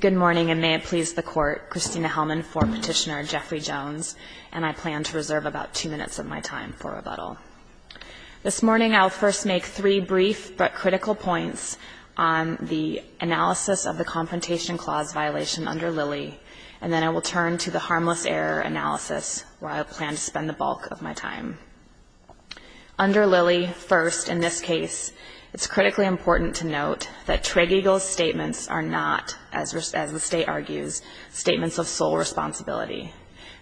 Good morning, and may it please the Court, Christina Hellman for Petitioner Jeffrey Jones, and I plan to reserve about two minutes of my time for rebuttal. This morning I will first make three brief but critical points on the analysis of the Confrontation Clause violation under Lilly, and then I will turn to the Harmless Error analysis where I plan to spend the bulk of my time. Under Lilly, first, in this case, it's critically important to note that Tregeagle's statements are not, as the State argues, statements of sole responsibility.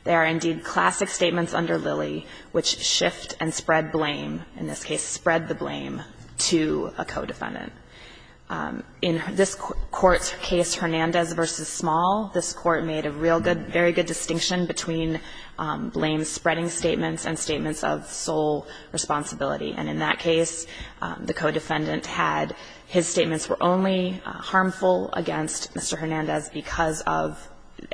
They are indeed classic statements under Lilly which shift and spread blame, in this case spread the blame, to a co-defendant. In this Court's case, Hernandez v. Small, this Court made a real good, very good distinction between blame-spreading statements and statements of sole responsibility, and in that case, the co-defendant had his statements were only harmful against Mr. Hernandez because of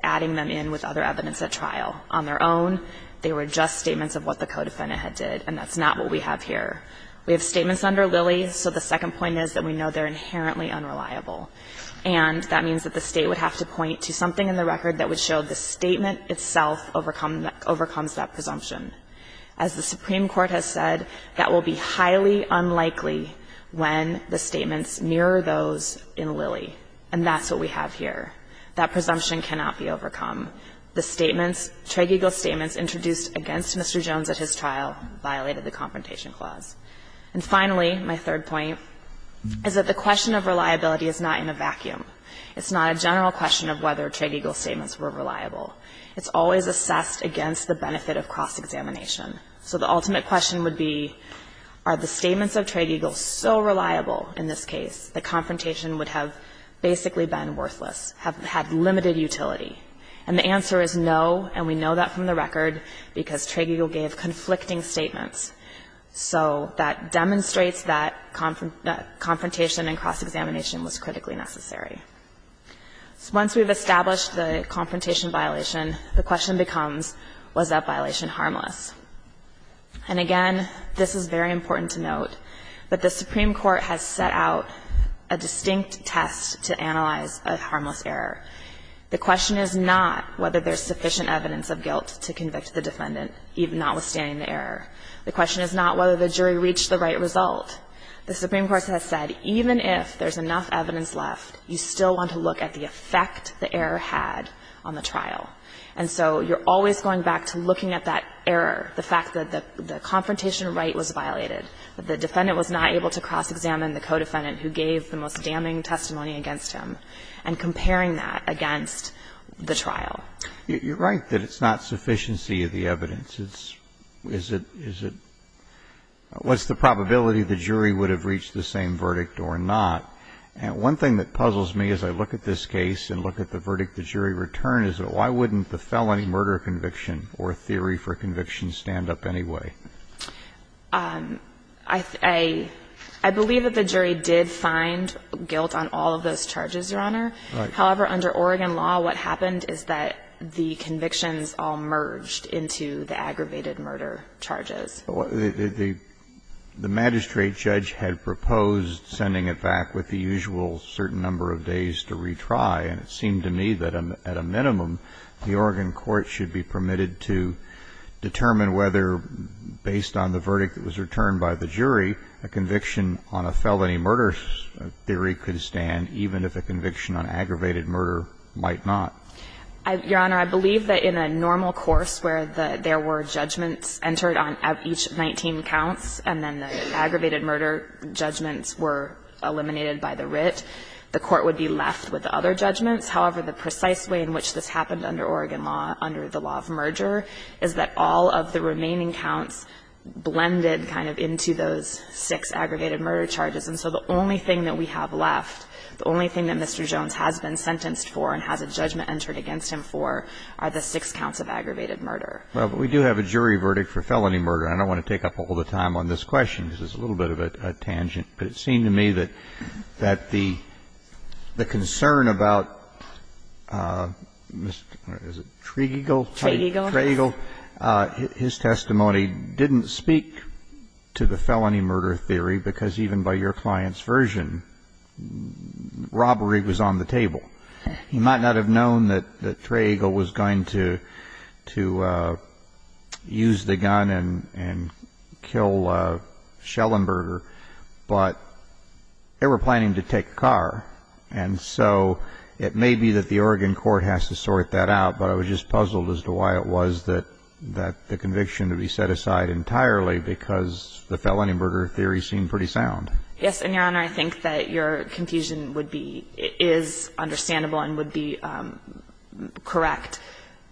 adding them in with other evidence at trial. On their own, they were just statements of what the co-defendant had did, and that's not what we have here. We have statements under Lilly, so the second point is that we know they're inherently unreliable, and that means that the State would have to point to something in the record that would show the statement itself overcomes that presumption. As the Supreme Court has said, that will be highly unlikely when the statements mirror those in Lilly, and that's what we have here. That presumption cannot be overcome. The statements, Tregeagle's statements introduced against Mr. Jones at his trial violated the Confrontation Clause. And finally, my third point, is that the question of reliability is not in a vacuum. It's not a general question of whether Tregeagle's statements were reliable. It's always assessed against the benefit of cross-examination. So the ultimate question would be, are the statements of Tregeagle so reliable in this case that confrontation would have basically been worthless, have had limited utility? And the answer is no, and we know that from the record, because Tregeagle gave conflicting statements. So that demonstrates that confrontation and cross-examination was critically necessary. Once we've established the confrontation violation, the question becomes, was that violation harmless? And again, this is very important to note, but the Supreme Court has set out a distinct test to analyze a harmless error. The question is not whether there's sufficient evidence of guilt to convict the defendant, even notwithstanding the error. The question is not whether the jury reached the right result. The Supreme Court has said, even if there's enough evidence left, you still want to look at the effect the error had on the trial. And so you're always going back to looking at that error, the fact that the confrontation right was violated, that the defendant was not able to cross-examine the co-defendant who gave the most damning testimony against him, and comparing that against the trial. You're right that it's not sufficiency of the evidence. It's, it's, is it, is it, what's the probability the jury would have reached the same verdict or not? And one thing that puzzles me as I look at this case and look at the verdict the jury returned is that why wouldn't the felony murder conviction or theory for conviction stand up anyway? I, I, I believe that the jury did find guilt on all of those charges, Your Honor. However, under Oregon law, what happened is that the convictions all merged into the aggravated murder charges. The, the, the magistrate judge had proposed sending it back with the usual certain number of days to retry, and it seemed to me that at a minimum, the Oregon court should be permitted to determine whether, based on the verdict that was returned by the jury, a conviction on a felony murder theory could stand, even if a conviction on aggravated murder might not. I, Your Honor, I believe that in a normal course where the, there were judgments entered on each 19 counts, and then the aggravated murder judgments were eliminated by the writ, the court would be left with the other judgments. However, the precise way in which this happened under Oregon law, under the law of merger, is that all of the remaining counts blended kind of into those six aggregated murder charges. And so the only thing that we have left, the only thing that Mr. Jones has been sentenced for and has a judgment entered against him for, are the six counts of aggravated murder. Well, but we do have a jury verdict for felony murder, and I don't want to take up all the time on this question, because it's a little bit of a tangent, but it seemed to me that, that the, the concern about Mr., what is it, Tregeagle? Tregeagle. Tregeagle. His testimony didn't speak to the felony murder theory, because even by your client's version, robbery was on the table. You might not have known that, that Tregeagle was going to, to use the gun and, and kill Schellenberger, but they were planning to take a car. And so it may be that the Oregon court has to sort that out, but I was just puzzled as to why it was that, that the conviction to be set aside entirely, because the felony murder theory seemed pretty sound. Yes, and, Your Honor, I think that your confusion would be, is understandable and would be correct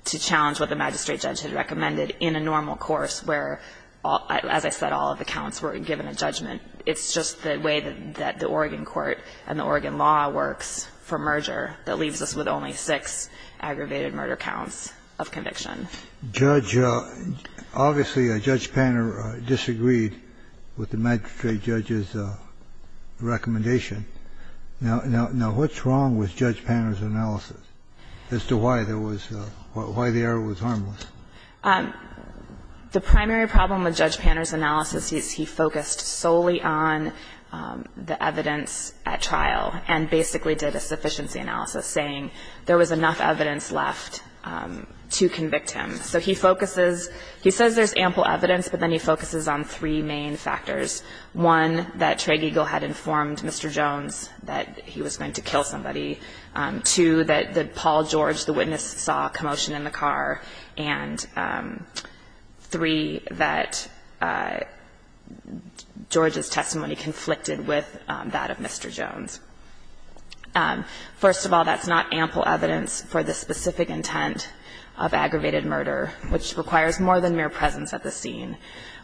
to challenge what the magistrate judge had recommended in a normal course where, as I said, all of the counts were given a judgment. It's just the way that the Oregon court and the Oregon law works for merger that leaves us with only six aggravated murder counts of conviction. Judge, obviously, Judge Panner disagreed with the magistrate judge's recommendation. Now, what's wrong with Judge Panner's analysis as to why there was, why the error was harmless? The primary problem with Judge Panner's analysis is he focused solely on the evidence at trial and basically did a sufficiency analysis, saying there was enough evidence left to convict him. So he focuses, he says there's ample evidence, but then he focuses on three main factors. One, that Trey Geagle had informed Mr. Jones that he was going to kill somebody. Two, that Paul George, the witness, saw a commotion in the car. And three, that George's testimony conflicted with that of Mr. Jones. First of all, that's not ample evidence for the specific intent of aggravated murder, which requires more than mere presence at the scene.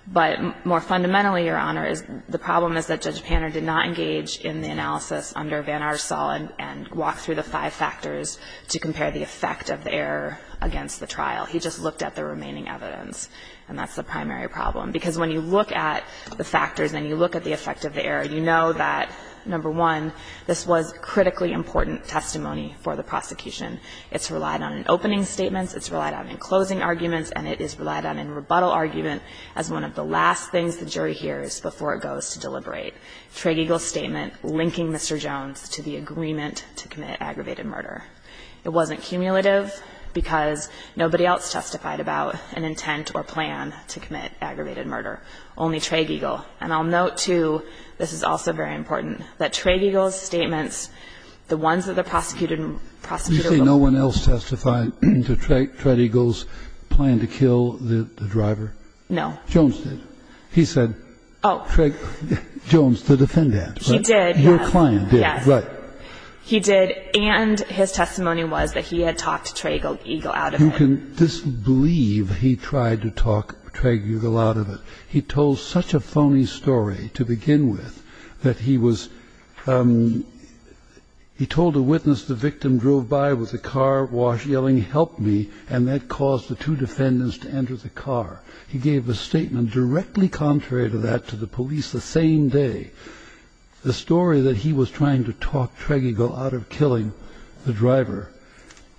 But more fundamentally, Your Honor, the problem is that Judge Panner did not engage in the analysis under Van Arsal and walk through the five factors to compare the effect of the error against the trial. He just looked at the remaining evidence, and that's the primary problem. Because when you look at the factors and you look at the effect of the error, you know that, number one, this was critically important testimony for the prosecution. It's relied on in opening statements, it's relied on in closing arguments, and it is relied on in rebuttal argument as one of the last things the jury hears before it goes to deliberate. Trey Geagle's statement linking Mr. Jones to the agreement to commit aggravated murder. It wasn't cumulative because nobody else testified about an intent or plan to commit aggravated murder, only Trey Geagle. And I'll note, too, this is also very important, that Trey Geagle's statements, the ones that the prosecutor will be able to testify about. Kennedy, you say no one else testified to Trey Geagle's plan to kill the driver? No. Jones did. He said, Trey Geagle, Jones, the defendant. He did, yes. Your client did, right. He did, and his testimony was that he had talked Trey Geagle out of it. You can disbelieve he tried to talk Trey Geagle out of it. He told such a phony story to begin with that he was, he told a witness the victim drove by with a car wash yelling, help me. And that caused the two defendants to enter the car. He gave a statement directly contrary to that to the police the same day. The story that he was trying to talk Trey Geagle out of killing the driver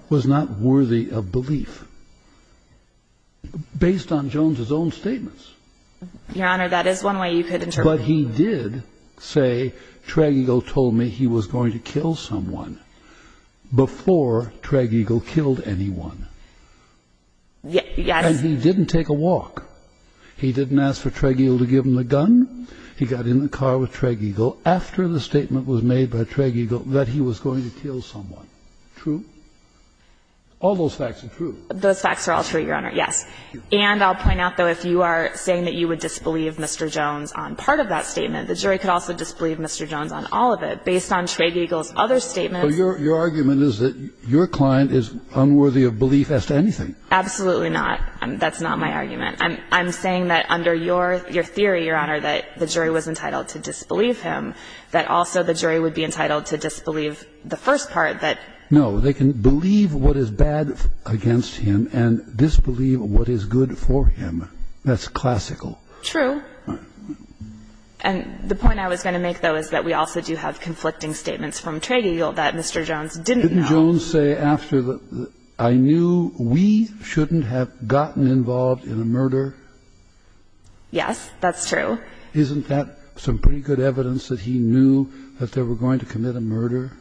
was not worthy of belief. Based on Jones's own statements. Your Honor, that is one way you could interpret it. But he did say, Trey Geagle told me he was going to kill someone before Trey Geagle killed anyone. Yes. And he didn't take a walk. He didn't ask for Trey Geagle to give him the gun. He got in the car with Trey Geagle after the statement was made by Trey Geagle that he was going to kill someone. True? All those facts are true. Those facts are all true, Your Honor. Yes. And I'll point out though, if you are saying that you would disbelieve Mr. Jones on part of that statement, the jury could also disbelieve Mr. Jones on all of it. Based on Trey Geagle's other statements. But your argument is that your client is unworthy of belief as to anything. Absolutely not. That's not my argument. I'm saying that under your theory, Your Honor, that the jury was entitled to disbelieve him. That also the jury would be entitled to disbelieve the first part that. No, they can believe what is bad against him and disbelieve what is good for him. That's classical. True. And the point I was going to make though is that we also do have conflicting statements from Trey Geagle that Mr. Jones didn't know. Didn't Jones say after the, I knew we shouldn't have gotten involved in a murder? Yes, that's true. Isn't that some pretty good evidence that he knew that they were going to commit a murder?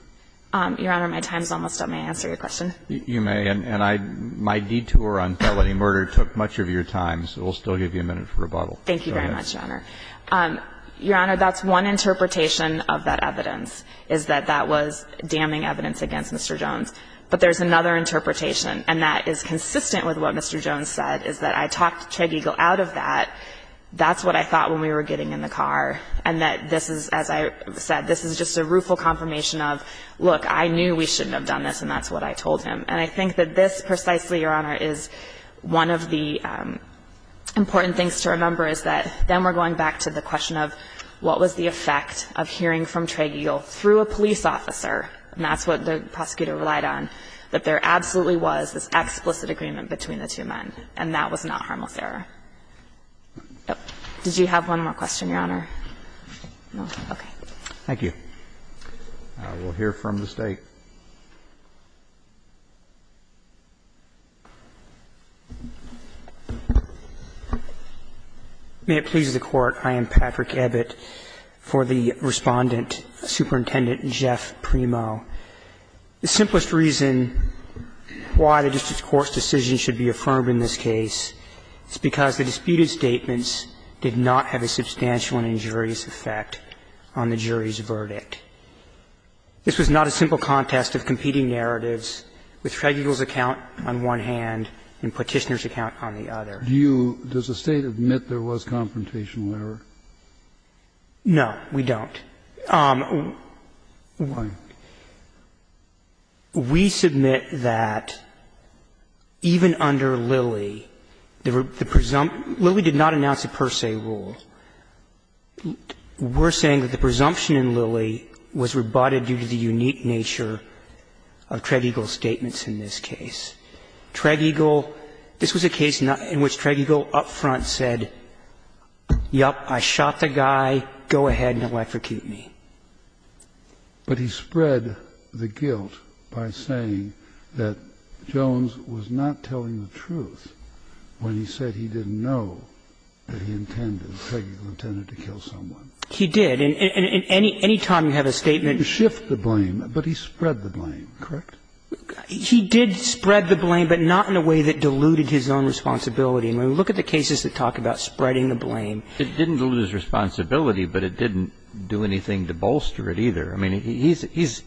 Your Honor, my time's almost up. May I answer your question? You may, and my detour on felony murder took much of your time. So we'll still give you a minute for rebuttal. Thank you very much, Your Honor. Your Honor, that's one interpretation of that evidence, is that that was damning evidence against Mr. Jones. But there's another interpretation, and that is consistent with what Mr. Jones said, is that I talked Trey Geagle out of that. That's what I thought when we were getting in the car. And that this is, as I said, this is just a rueful confirmation of, look, I knew we shouldn't have done this, and that's what I told him. And I think that this precisely, Your Honor, is one of the important things to remember, is that then we're going back to the question of what was the effect of hearing from Trey Geagle through a police officer, and that's what the prosecutor relied on, that there absolutely was this explicit agreement between the two men. And that was not harmless error. Did you have one more question, Your Honor? No. Okay. Thank you. We'll hear from the State. May it please the Court, I am Patrick Ebbett for the Respondent, Superintendent Jeff Primo. The simplest reason why the District Court's decision should be affirmed in this case is because the disputed statements did not have a substantial injury. They did not have a substantial injury, but they did not have a substantial injury that would have a serious effect on the jury's verdict. This was not a simple contest of competing narratives with Trey Geagle's account on one hand and Petitioner's account on the other. Do you – does the State admit there was confrontational error? No, we don't. We submit that even under Lilly, the presumption – Lilly did not announce a per se rule. We're saying that the presumption in Lilly was rebutted due to the unique nature of Trey Geagle's statements in this case. Trey Geagle – this was a case in which Trey Geagle up front said, yep, I shot the guy, go ahead and electrocute me. But he spread the guilt by saying that Jones was not telling the truth when he said he didn't know that he intended, Trey Geagle intended to kill someone. He did. And any time you have a statement – To shift the blame, but he spread the blame, correct? He did spread the blame, but not in a way that diluted his own responsibility. And when we look at the cases that talk about spreading the blame – It didn't dilute his responsibility, but it didn't do anything to bolster it either. I mean, he's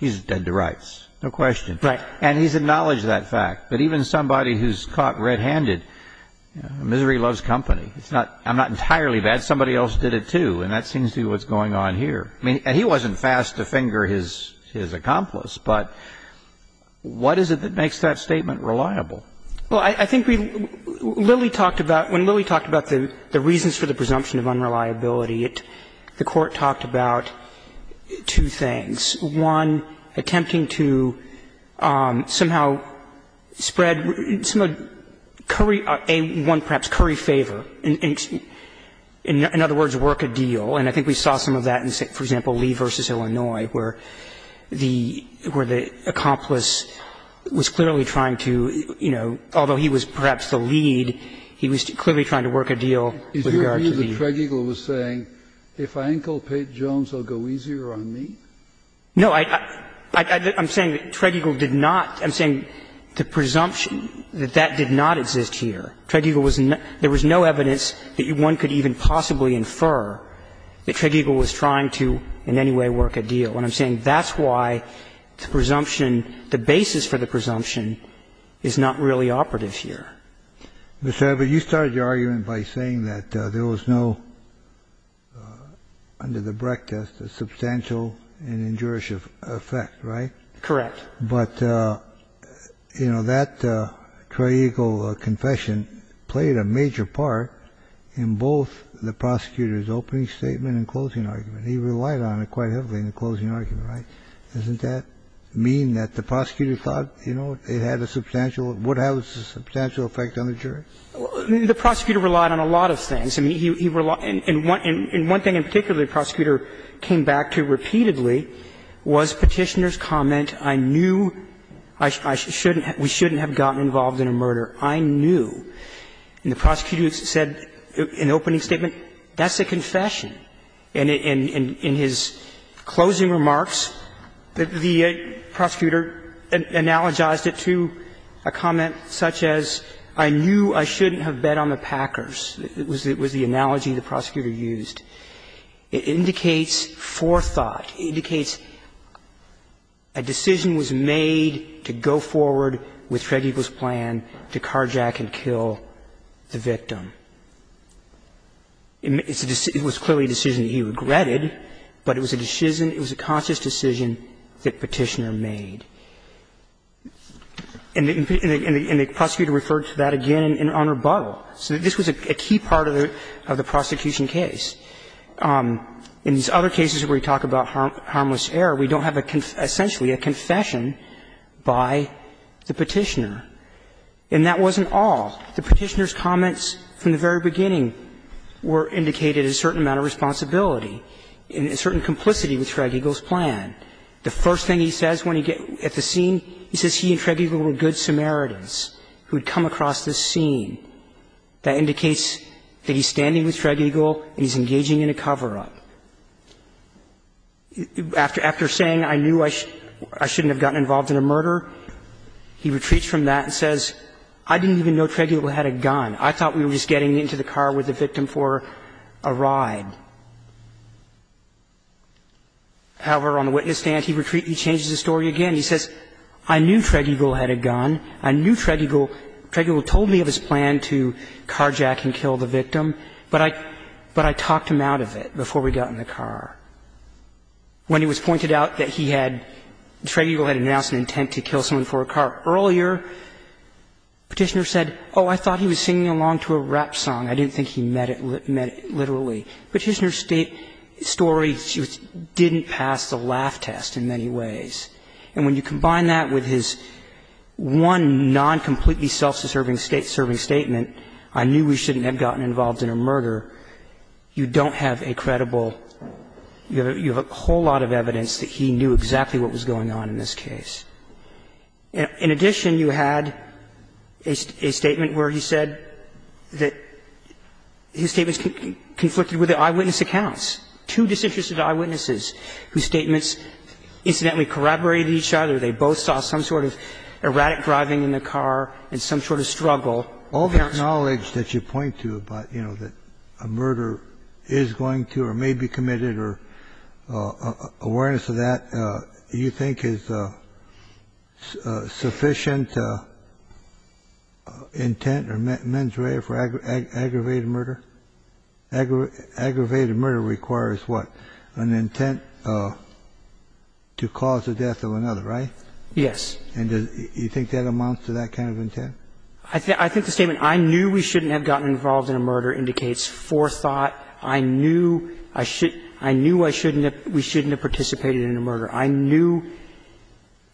dead to rights, no question. Right. And he's acknowledged that fact. But even somebody who's caught red-handed – misery loves company. It's not – I'm not entirely bad. Somebody else did it, too. And that seems to be what's going on here. I mean, he wasn't fast to finger his accomplice, but what is it that makes that statement reliable? Well, I think we – Lilly talked about – when Lilly talked about the reasons for the presumption of unreliability, it – the Court talked about two things. One, attempting to somehow spread some of Curry – A1, perhaps, Curry favor. In other words, work a deal. And I think we saw some of that in, say, for example, Lee v. Illinois, where the accomplice was clearly trying to, you know, although he was perhaps the lead, he was clearly trying to work a deal with regard to Lee. Is your view that Tregeagle was saying, if I inculcate Jones, it will go easier on me? No. I'm saying that Tregeagle did not – I'm saying the presumption that that did not exist here. Tregeagle was – there was no evidence that one could even possibly infer that Tregeagle was trying to in any way work a deal. And I'm saying that's why the presumption – the basis for the presumption is not really operative here. Mr. Abbott, you started your argument by saying that there was no, under the Brecht test, a substantial and injurious effect, right? Correct. But, you know, that Tregeagle confession played a major part in both the prosecutor's opening statement and closing argument. He relied on it quite heavily in the closing argument, right? Doesn't that mean that the prosecutor thought, you know, it had a substantial – would have a substantial effect on the jury? The prosecutor relied on a lot of things. I mean, he relied – and one thing in particular the prosecutor came back to repeatedly was Petitioner's comment, I knew we shouldn't have gotten involved in a murder. I knew. And the prosecutor said in the opening statement, that's a confession. And in his closing remarks, the prosecutor analogized it to a comment such as, I knew I shouldn't have bet on the Packers. It was the analogy the prosecutor used. It indicates forethought. It indicates a decision was made to go forward with Tregeagle's plan to carjack and kill the victim. It was clearly a decision that he regretted, but it was a decision, it was a conscious decision that Petitioner made. And the prosecutor referred to that again on rebuttal. So this was a key part of the prosecution case. In these other cases where we talk about harmless error, we don't have essentially a confession by the Petitioner. And that wasn't all. The Petitioner's comments from the very beginning were indicated a certain amount of responsibility and a certain complicity with Tregeagle's plan. The first thing he says when he gets at the scene, he says he and Tregeagle were good Samaritans who had come across this scene. That indicates that he's standing with Tregeagle and he's engaging in a cover-up. After saying, I knew I shouldn't have gotten involved in a murder, he retreats from that and says, I didn't even know Tregeagle had a gun. I thought we were just getting into the car with the victim for a ride. However, on the witness stand, he retreats, he changes the story again. He says, I knew Tregeagle had a gun. I knew Tregeagle, Tregeagle told me of his plan to carjack and kill the victim. But I talked him out of it before we got in the car. When it was pointed out that he had, Tregeagle had announced an intent to kill someone for a car earlier, Petitioner said, oh, I thought he was singing along to a rap song. I didn't think he meant it literally. Petitioner's story didn't pass the laugh test in many ways. And when you combine that with his one non-completely self-serving statement, I knew we shouldn't have gotten involved in a murder, you don't have a credible, you have a whole lot of evidence that he knew exactly what was going on in this case. In addition, you had a statement where he said that his statements conflicted with the eyewitness accounts, two disinterested eyewitnesses whose statements incidentally corroborated each other. They both saw some sort of erratic driving in the car and some sort of struggle. All the knowledge that you point to about, you know, that a murder is going to or may be committed or awareness of that, you think is sufficient intent or mens rea for aggravated murder? Aggravated murder requires what? An intent to cause the death of another, right? Yes. And do you think that amounts to that kind of intent? I think the statement, I knew we shouldn't have gotten involved in a murder, indicates forethought. I knew I shouldn't we shouldn't have participated in a murder. I knew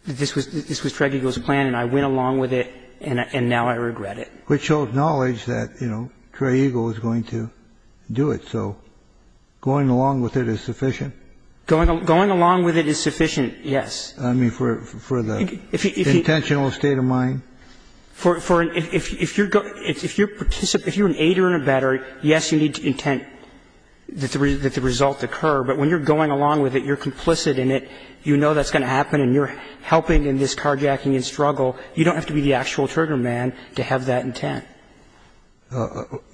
this was Trey Eagle's plan and I went along with it and now I regret it. Which shows knowledge that, you know, Trey Eagle is going to do it. So going along with it is sufficient? Going along with it is sufficient, yes. I mean, for the intentional state of mind? If you're an aider in a better, yes, you need intent that the result occur, but when you're going along with it, you're complicit in it, you know that's going to happen and you're helping in this carjacking and struggle, you don't have to be the actual trigger man to have that intent.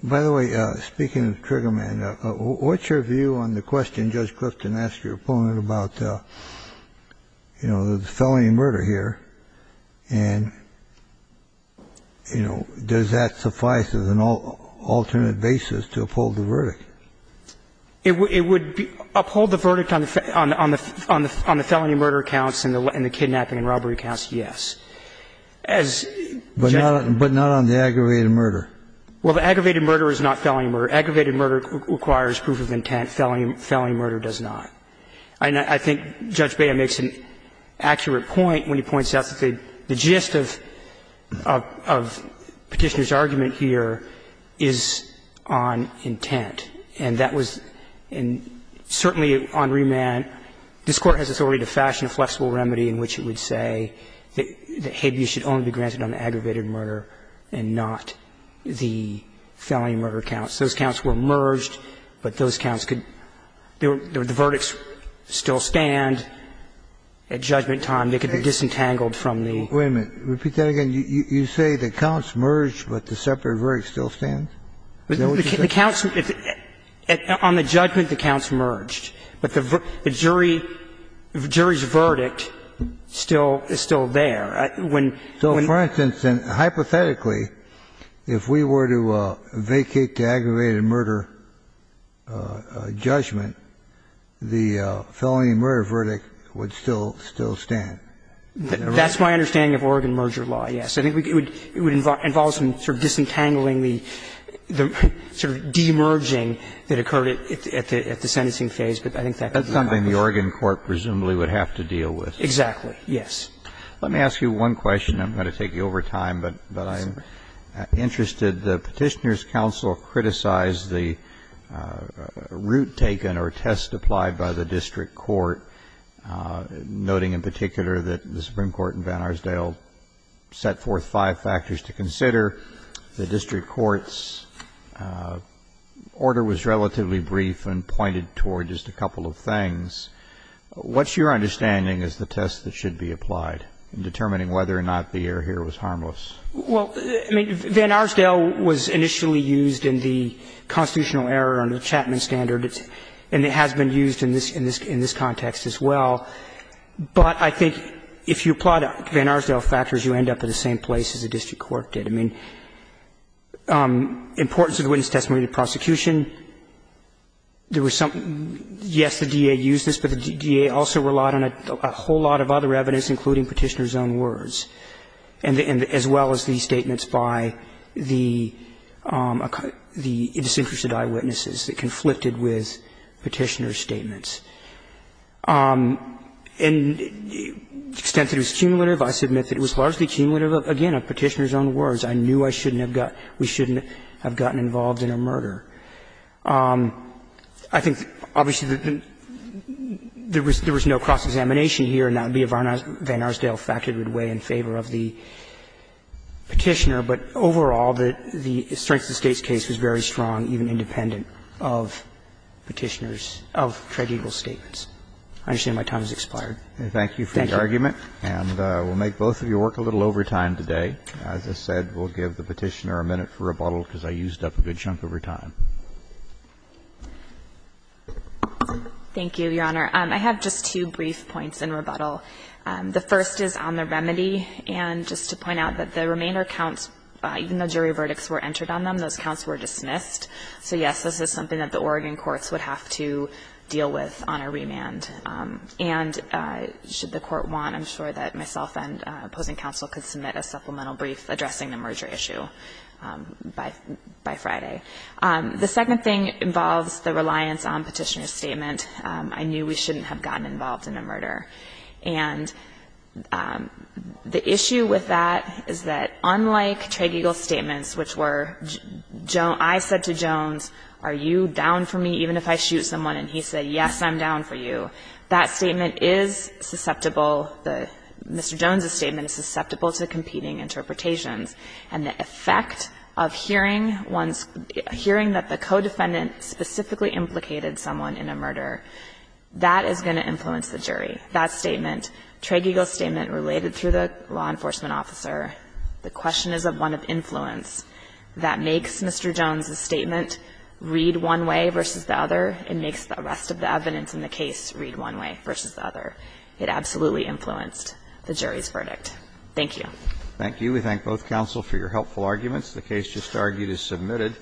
By the way, speaking of trigger man, what's your view on the question Judge Clifton asked your opponent about, you know, the felony murder here, and, you know, does that suffice as an alternate basis to uphold the verdict? It would uphold the verdict on the felony murder counts and the kidnapping and robbery counts, yes. But not on the aggravated murder? Well, the aggravated murder is not felony murder. Aggravated murder requires proof of intent. Felony murder does not. And I think Judge Bea makes an accurate point when he points out that the gist of Petitioner's argument here is on intent. And that was certainly on remand. This Court has authority to fashion a flexible remedy in which it would say that habeas should only be granted on the aggravated murder and not the felony murder counts. Those counts were merged, but those counts could – the verdicts still stand at judgment time. They could be disentangled from the – Wait a minute. Repeat that again. You say the counts merged, but the separate verdict still stands? Is that what you said? The counts – on the judgment, the counts merged. But the jury's verdict still is still there. When – So, for instance, hypothetically, if we were to vacate the aggravated murder judgment, the felony murder verdict would still stand? That's my understanding of Oregon merger law, yes. I think it would involve some sort of disentangling the sort of demerging that occurred at the sentencing phase, but I think that's something the Oregon court presumably would have to deal with. Exactly, yes. Let me ask you one question. I'm going to take you over time, but I'm interested. The Petitioner's counsel criticized the route taken or test applied by the district court, noting in particular that the Supreme Court in Van Arsdale set forth five factors to consider. The district court's order was relatively brief and pointed toward just a couple of things. What's your understanding is the test that should be applied in determining whether or not the error here was harmless? Well, I mean, Van Arsdale was initially used in the constitutional error under the Chapman standard, and it has been used in this context as well. But I think if you apply the Van Arsdale factors, you end up in the same place as the district court did. I mean, importance of the witness testimony to prosecution, there was some – yes, the DA used this, but the DA also relied on a whole lot of other evidence, including Petitioner's own words, as well as the statements by the disinterested eyewitnesses that conflicted with Petitioner's statements. And the extent that it was cumulative, I submit that it was largely cumulative of, again, Petitioner's own words. I knew I shouldn't have got – we shouldn't have gotten involved in a murder. I think, obviously, there was no cross-examination here, and that would be a Van Arsdale factor that would weigh in favor of the Petitioner. But overall, the strength of the State's case was very strong, even independent of Petitioner's – of Tred Eagle's statements. I understand my time has expired. Thank you. Thank you for the argument. And we'll make both of you work a little over time today. As I said, we'll give the Petitioner a minute for rebuttal, because I used up a good chunk over time. Thank you, Your Honor. I have just two brief points in rebuttal. The first is on the remedy. And just to point out that the remainder counts, even though jury verdicts were entered on them, those counts were dismissed. So, yes, this is something that the Oregon courts would have to deal with on a remand. And should the court want, I'm sure that myself and opposing counsel could submit a supplemental brief addressing the merger issue by Friday. The second thing involves the reliance on Petitioner's statement. I knew we shouldn't have gotten involved in a murder. And the issue with that is that, unlike Tred Eagle's statements, which were – I said to Jones, are you down for me even if I shoot someone? And he said, yes, I'm down for you. That statement is susceptible – Mr. Jones's statement is susceptible to competing interpretations. And the effect of hearing one's – hearing that the co-defendant specifically implicated someone in a murder, that is going to influence the jury. That statement, Tred Eagle's statement related through the law enforcement officer, the question is of one of influence. That makes Mr. Jones's statement read one way versus the other. It makes the rest of the evidence in the case read one way versus the other. It absolutely influenced the jury's verdict. Thank you. Thank you. We thank both counsel for your helpful arguments. The case just argued is submitted.